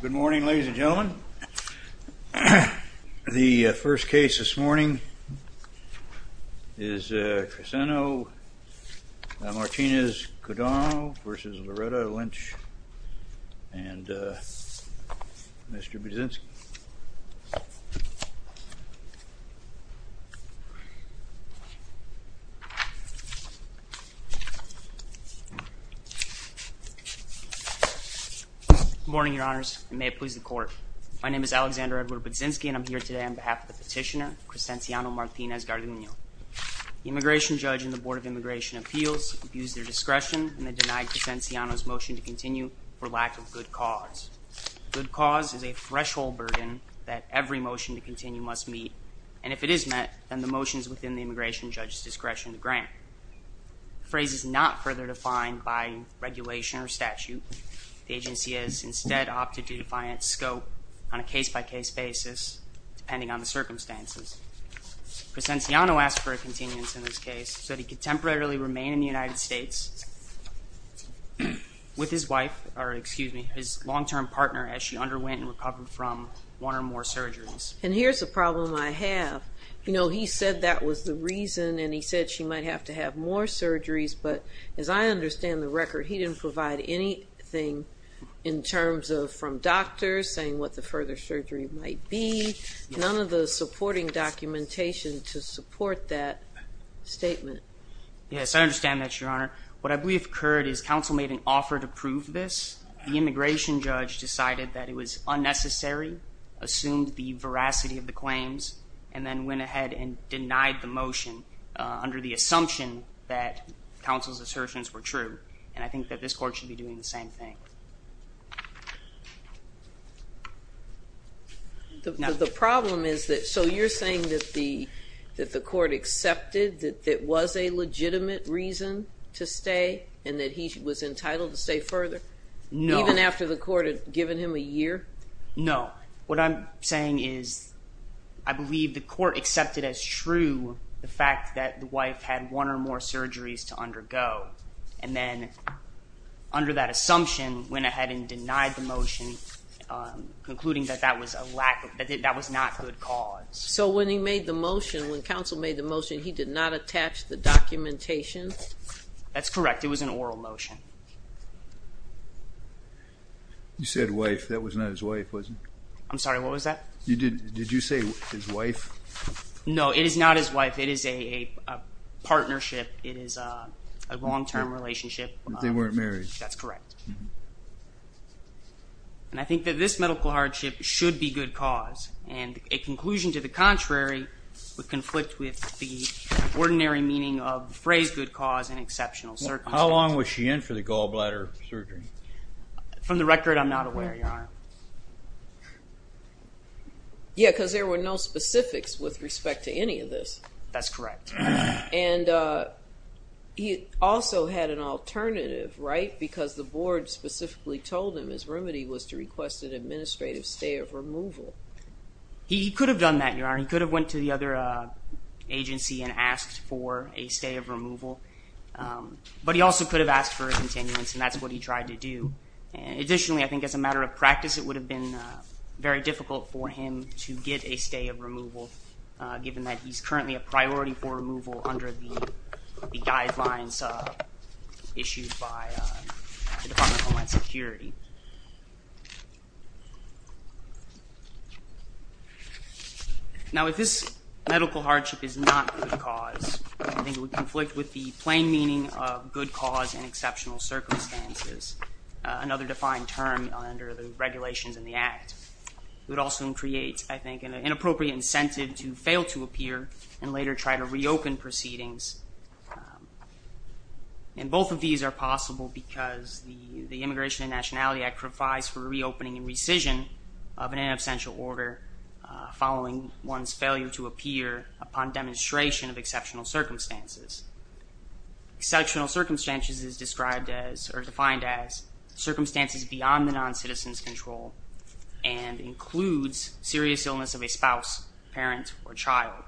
Good morning ladies and gentlemen. The first case this morning is Cresenciano Martinez-Garduno v. Loretta Lynch v. Mr. Budzinski. Good morning your honors and may it please the court. My name is Alexander Edward Budzinski and I'm here today on behalf of the petitioner Cresenciano Martinez-Garduno. The immigration judge and the board of immigration appeals abused their discretion and they denied Cresenciano's motion to continue for lack of good cause. Good cause is a threshold burden that every motion to continue must meet and if it is met then the motion is within the immigration judge's discretion to opt to do defiant scope on a case-by-case basis depending on the circumstances. Cresenciano asked for a continuance in this case so he could temporarily remain in the United States with his wife or excuse me his long-term partner as she underwent and recovered from one or more surgeries. And here's the problem I have you know he said that was the reason and he said she might have to have more surgeries but as I understand the record he didn't provide anything in terms of from doctors saying what the further surgery might be none of the supporting documentation to support that statement. Yes I understand that your honor what I believe occurred is council made an offer to prove this the immigration judge decided that it was unnecessary assumed the veracity of the claims and then went ahead and denied the motion under the assumption that counsel's assertions were true and I think that this court should be doing the same thing. The problem is that so you're saying that the that the court accepted that it was a legitimate reason to stay and that he was entitled to stay further even after the court had given him a year? No what I'm saying is I believe the court accepted as true the fact that the wife had one or more surgeries to undergo and then under that assumption went ahead and denied the motion concluding that that was a lack of that was not good cause. So when he made the motion when counsel made the motion he did not attach the documentation? That's correct it was an oral motion. You said wife that was not his wife was it? I'm sorry what was that? You did did you say his wife? No it is not his wife it is a partnership it is a long-term relationship. They weren't married? That's correct and I think that this medical hardship should be good cause and a conclusion to the contrary would conflict with the ordinary meaning of the phrase good cause in exceptional circumstances. How long was she in for the gallbladder surgery? From the record I'm not aware your honor. Yeah cause there were no specifics with respect to any of this. That's correct. And he also had an alternative right because the board specifically told him his remedy was to request an administrative stay of removal. He could have done that your honor he could have went to the other agency and asked for a stay of removal but he also could have asked for a continuance and that's what he tried to do Additionally I think as a matter of practice it would have been very difficult for him to get a stay of removal given that he's currently a priority for removal under the guidelines issued by the Department of Homeland Security. Now if this medical hardship is not good cause I think it would conflict with the term under the regulations in the act. It would also create I think an inappropriate incentive to fail to appear and later try to reopen proceedings. And both of these are possible because the Immigration and Nationality Act provides for reopening and rescission of an inabsential order following one's failure to appear upon demonstration of exceptional circumstances. Exceptional circumstances is described as or defined as circumstances beyond the non-citizen's control and includes serious illness of a spouse, parent, or child.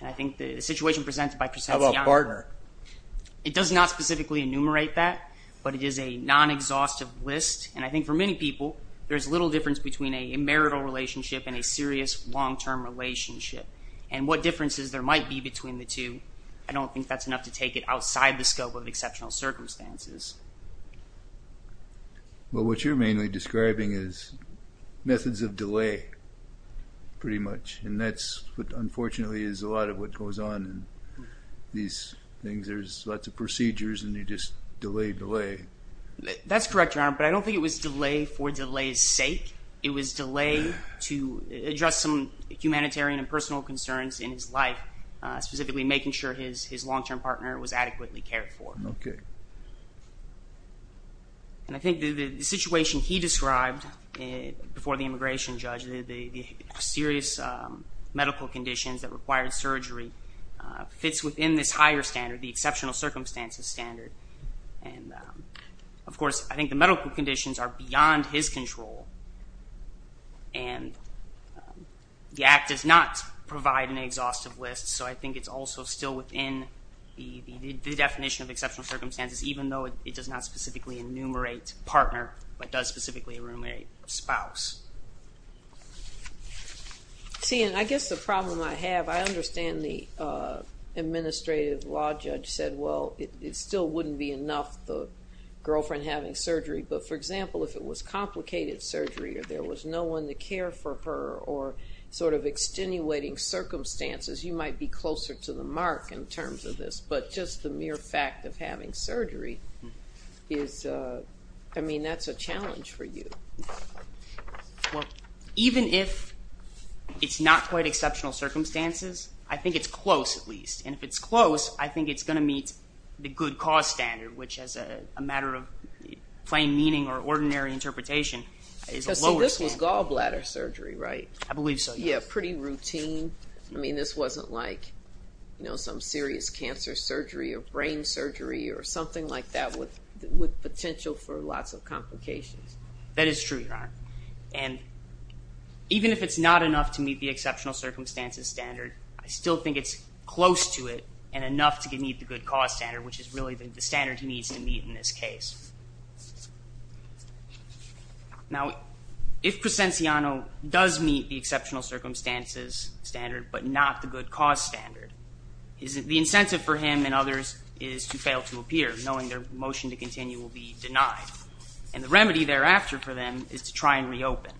And I think the situation presented by it does not specifically enumerate that but it is a non-exhaustive list and I think for many people there's little difference between a marital relationship and a serious long-term relationship and what differences there might be between the two I don't think that's enough to take it outside the scope of exceptional circumstances. Well what you're mainly describing is methods of delay pretty much and that's what unfortunately is a lot of what goes on in these things there's lots of procedures and you just delay delay. That's correct your honor but I don't think it was delay for delay's sake. It was delay to address some humanitarian and personal concerns in his life specifically making sure his his long-term partner was adequately cared for. Okay. And I think the situation he described before the immigration judge the serious medical conditions that required surgery fits within this higher standard the exceptional circumstances standard and of course I think the medical conditions are beyond his control and the act does not provide an exhaustive list so I think it's also still within the the definition of exceptional circumstances even though it does not specifically enumerate partner but does specifically enumerate spouse. See and I guess the problem I have I understand the administrative law judge said well it still wouldn't be enough the girlfriend having surgery but for example if it was complicated surgery or there was no one to care for her or sort of extenuating circumstances you might be closer to the mark in terms of this but just the mere fact of having surgery is I mean that's a challenge for you. Well even if it's not quite exceptional circumstances I think it's close at least and if it's close I think it's going to meet the good cause standard which as a matter of plain meaning or ordinary interpretation. So this was gallbladder surgery right? I believe so. Yeah pretty routine I mean this wasn't like you know some serious cancer surgery or brain surgery or something like that with with potential for lots of complications. That is true your honor and even if it's not enough to meet the exceptional circumstances standard I still think it's close to it and enough to meet the good cause standard which is really the standard he needs to meet in this case. Now if Presenciano does meet the exceptional circumstances standard but not the good cause standard is it the incentive for him and others is to fail to appear knowing their motion to continue will be denied and the remedy thereafter for them is to try and reopen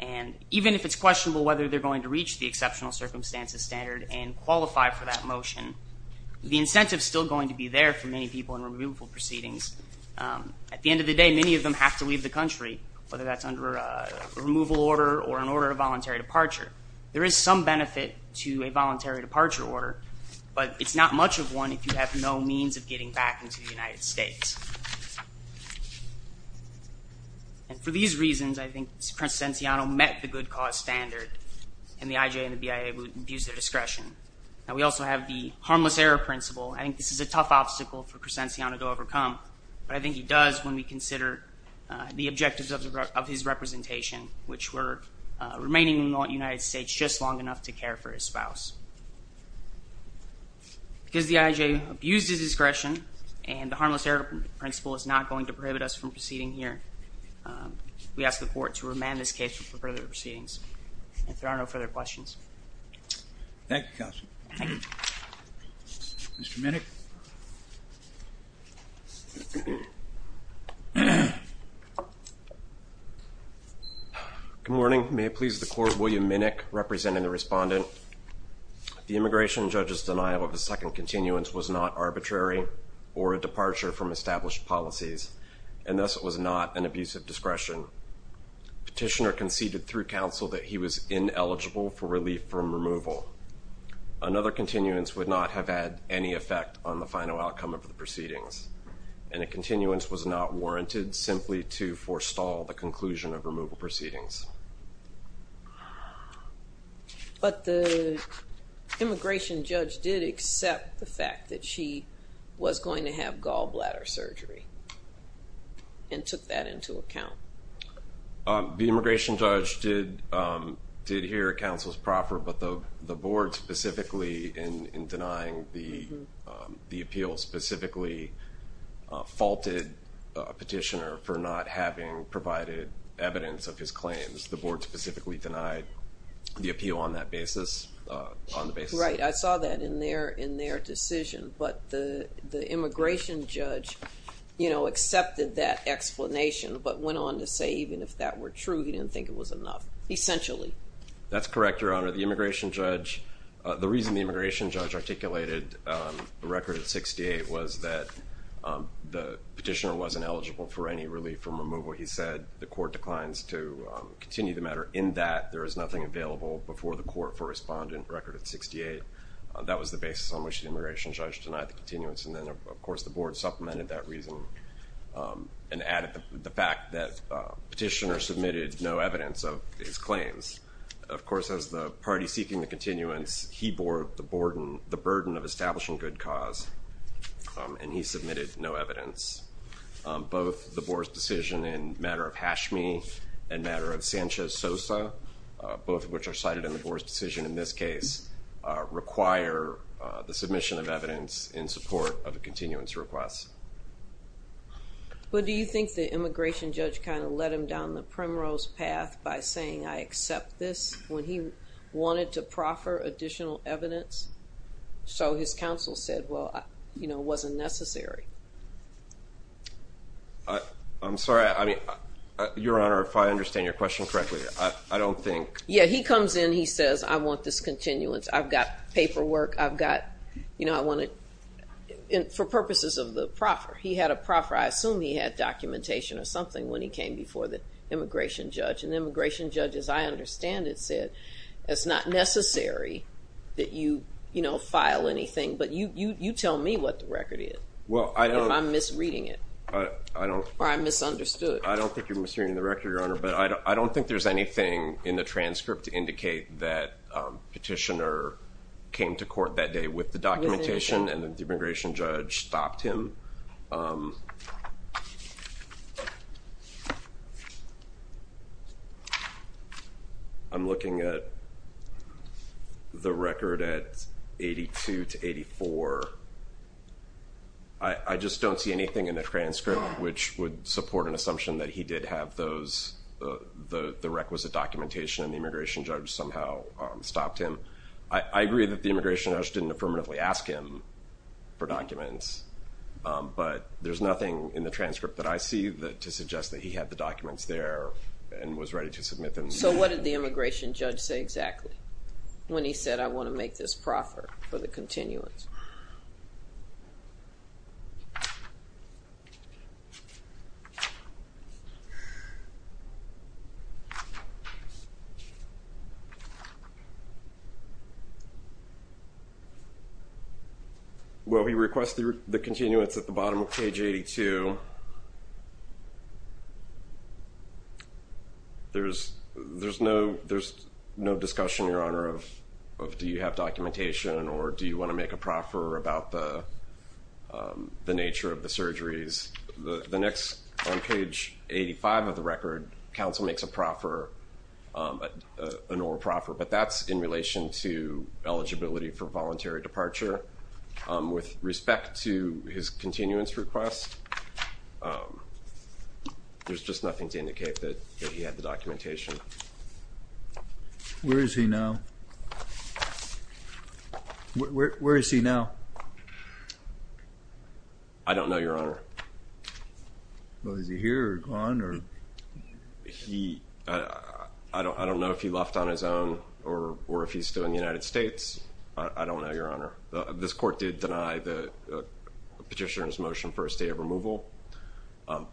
and even if it's questionable whether they're going to reach the exceptional circumstances standard and qualify for that motion the incentive is still going to be there for many people in removal proceedings. At the end of the day many of them have to leave the country whether that's under a removal order or an order of voluntary departure. There is some benefit to a voluntary departure order but it's not much of one if you have no means of getting back into the United States. And for these reasons I think Presenciano met the good cause standard and the IJ and the BIA would abuse their discretion. Now we also have the harmless error principle. I think this is a tough obstacle for Presenciano to overcome but I think he does when we consider the objectives of his representation which were remaining in the United States just long enough to care for his spouse. Because the IJ abused his discretion and the harmless error principle is not going to prohibit us from proceeding here. We ask the court to remand this case for further proceedings if there are no further questions. Thank you counsel. Mr. Minnick. Good morning may it please the court William Minnick representing the respondent. The immigration judge's denial of the second continuance was not arbitrary or a departure from established policies and thus it was not an abuse of discretion. Petitioner conceded through counsel that he was ineligible for relief from removal. Another continuance would not have had any effect on the final outcome of the proceedings and a continuance was not warranted simply to forestall the conclusion of removal proceedings. But the immigration judge did accept the fact that she was going to have gallbladder surgery and took that into account. The immigration judge did hear counsel's proffer but the board specifically in denying the appeal specifically faulted petitioner for not having provided evidence of his claims. The board specifically denied the appeal on that basis on the basis. Right I saw that in their in their decision but the the immigration judge you know accepted that explanation but went on to say even if that were true he didn't think it was enough essentially. That's correct your honor the immigration judge the reason the immigration judge articulated the record at 68 was that the petitioner wasn't eligible for any relief from removal. He said the court declines to continue the matter in that there is nothing available before the court for respondent record at 68. That was the basis on which the immigration judge denied the continuance and then of course the board supplemented that reason and added the fact that petitioner submitted no evidence of his claims. Of course as the party seeking the continuance he bore the burden the burden of establishing good cause and he submitted no evidence. Both the board's decision in matter of Hashmi and matter of Sanchez Sosa both of which are cited in the board's decision in this case require the submission of evidence in support of a continuance request. But do you think the immigration judge kind of led him down the primrose path by saying I accept this when he wanted to proffer additional evidence so his counsel said well you know wasn't necessary. I'm sorry I mean your honor if I understand your question correctly I don't think. Yeah he comes in he says I want this continuance I've got paperwork I've got you know I want to and for purposes of the proffer he had a proffer I assume he had documentation or something when he came before the immigration judge and the immigration judge as I understand it said it's not necessary that you you know file anything but you you you tell me what the record is. Well I don't. I'm misreading it. I don't. Or I misunderstood. I don't think you're misreading the record your honor but I don't think there's anything in the transcript to indicate that petitioner came to court that day with the documentation and the immigration judge stopped him. I'm looking at the record at 82 to 84. I just don't see anything in the transcript which would support an assumption that he did have those the the requisite documentation and the immigration judge somehow stopped him. I agree that the immigration judge didn't affirmatively ask him for documents but there's nothing in the transcript that I see that to suggest that he had the documents there and was ready to submit them. So what did the immigration judge say exactly when he said I want to make this proffer for the continuance? Well he requested the continuance at the bottom of page 82. There's there's no there's no discussion your honor of of do you have documentation or do you want to make a proffer about the the nature of the surgeries. The next on page 85 of the record counsel makes a proffer an oral proffer but that's in relation to eligibility for voluntary departure with respect to his continuance request. There's just nothing to indicate that that he had the documentation. Where is he now? Where is he now? I don't know your honor. Well is he here or gone or? He I don't I don't know if he left on his own or or if he's still in the United States. I don't know your honor. This court did deny the petitioner's motion for a stay of removal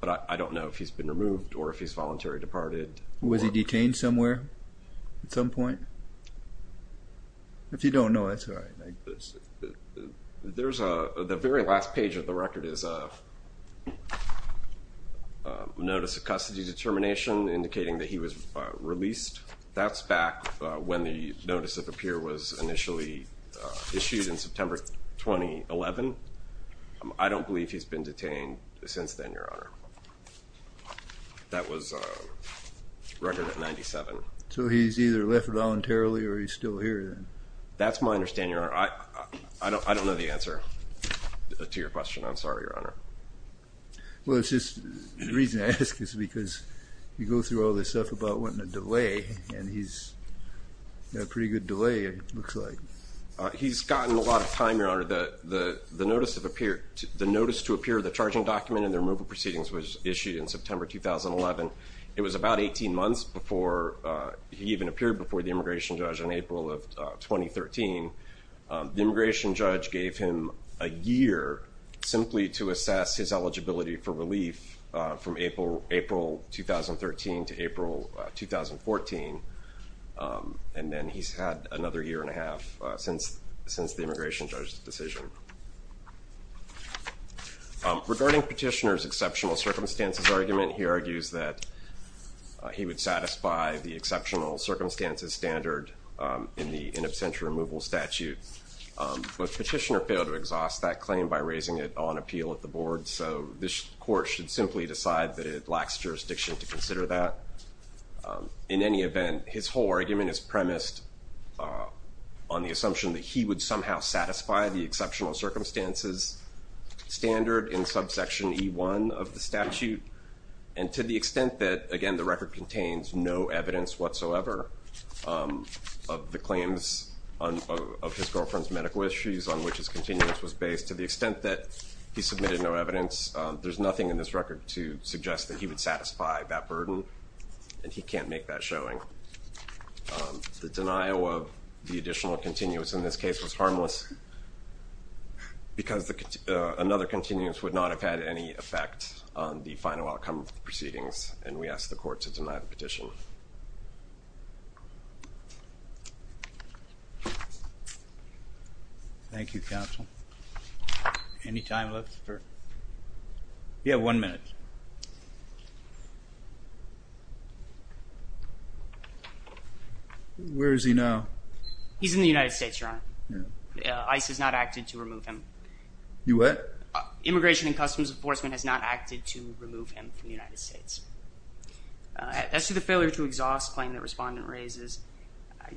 but I don't know if he's been removed or if he's voluntary departed. Was he detained somewhere at some point? If you don't know that's all right. There's a the very last page of the record is a notice of custody determination indicating that he was released. That's back when the notice of appear was initially issued in September 2011. I don't believe he's been detained since then your honor. That was record at 97. So he's either left voluntarily or he's still here then? That's my understanding your honor. I I don't I don't know the answer to your question. I'm sorry your honor. Well it's just the reason I ask is because you go through all this stuff about wanting to delay and he's got a pretty good delay it looks like. He's gotten a lot of time your honor. The the the notice of appear the notice to appear the charging document and the removal proceedings was issued in September 2011. It was about 18 months before he even appeared before the immigration judge in April of 2013. The immigration judge gave him a year simply to assess his eligibility for relief from April 2013 to April 2014 and then he's had another year and a half since since the immigration judge's decision. Regarding petitioner's exceptional circumstances argument he argues that he would satisfy the exceptional circumstances standard in the in absentia removal statute. But petitioner failed to exhaust that claim by raising it on appeal at the board so this court should simply decide that it lacks jurisdiction to consider that. In any event his whole argument is premised on the assumption that he would somehow satisfy the exceptional circumstances standard in subsection e1 of the statute and to the extent that again the record contains no evidence whatsoever of the claims on of his girlfriend's issues on which his continuous was based to the extent that he submitted no evidence there's nothing in this record to suggest that he would satisfy that burden and he can't make that showing. The denial of the additional continuous in this case was harmless because the another continuous would not have had any effect on the final outcome proceedings and we asked the court to deny the petition. Thank you counsel. Any time left? Yeah one minute. Where is he now? He's in the United States your honor. ICE has not acted to remove him. You what? Immigration and Customs Enforcement has not acted to remove him from the United States. As to the failure to exhaust claim that respondent raises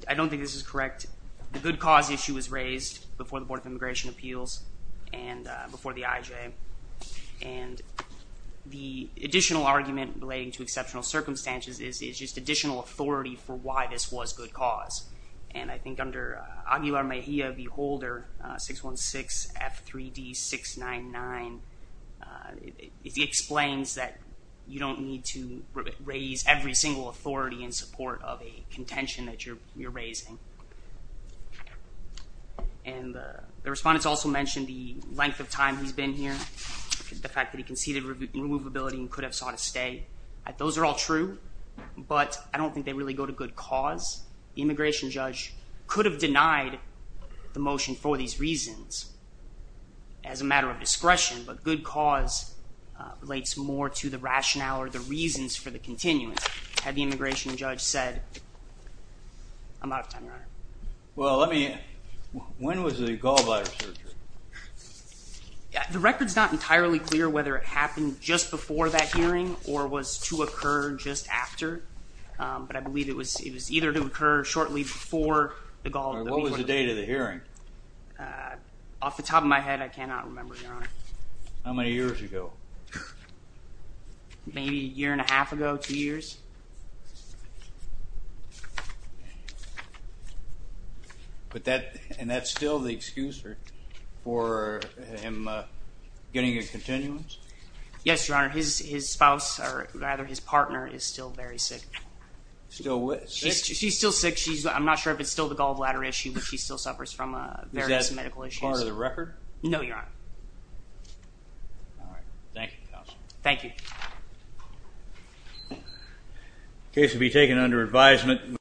I don't think this is correct. The good cause issue was raised before the Board of Immigration Appeals and before the IJ and the additional argument relating to exceptional circumstances is just additional authority for why this was good cause and I think under Aguilar Mejia the holder 616 F3D 699 it explains that you don't need to raise every single authority in support of a continuous. And the respondents also mentioned the length of time he's been here the fact that he conceded removability and could have sought a stay. Those are all true but I don't think they really go to good cause. The immigration judge could have denied the motion for these reasons as a matter of discretion but good cause relates more to the rationale or the reasons for the continuance. Had the immigration judge said I'm out of time your honor. Well let me when was the gallbladder surgery? The record's not entirely clear whether it happened just before that hearing or was to occur just after but I believe it was it was either to occur shortly before the gallbladder. What was the date of the hearing? Off the top of my head I cannot remember your honor. How many years ago? Maybe a year and a half ago two years. But that and that's still the excuser for him uh getting a continuance? Yes your honor his his spouse or rather his partner is still very sick. Still what? She's she's still sick she's I'm not sure if it's still the gallbladder issue but she still suffers from uh various All right thank you counsel. Thank you. Case to be taken under advisement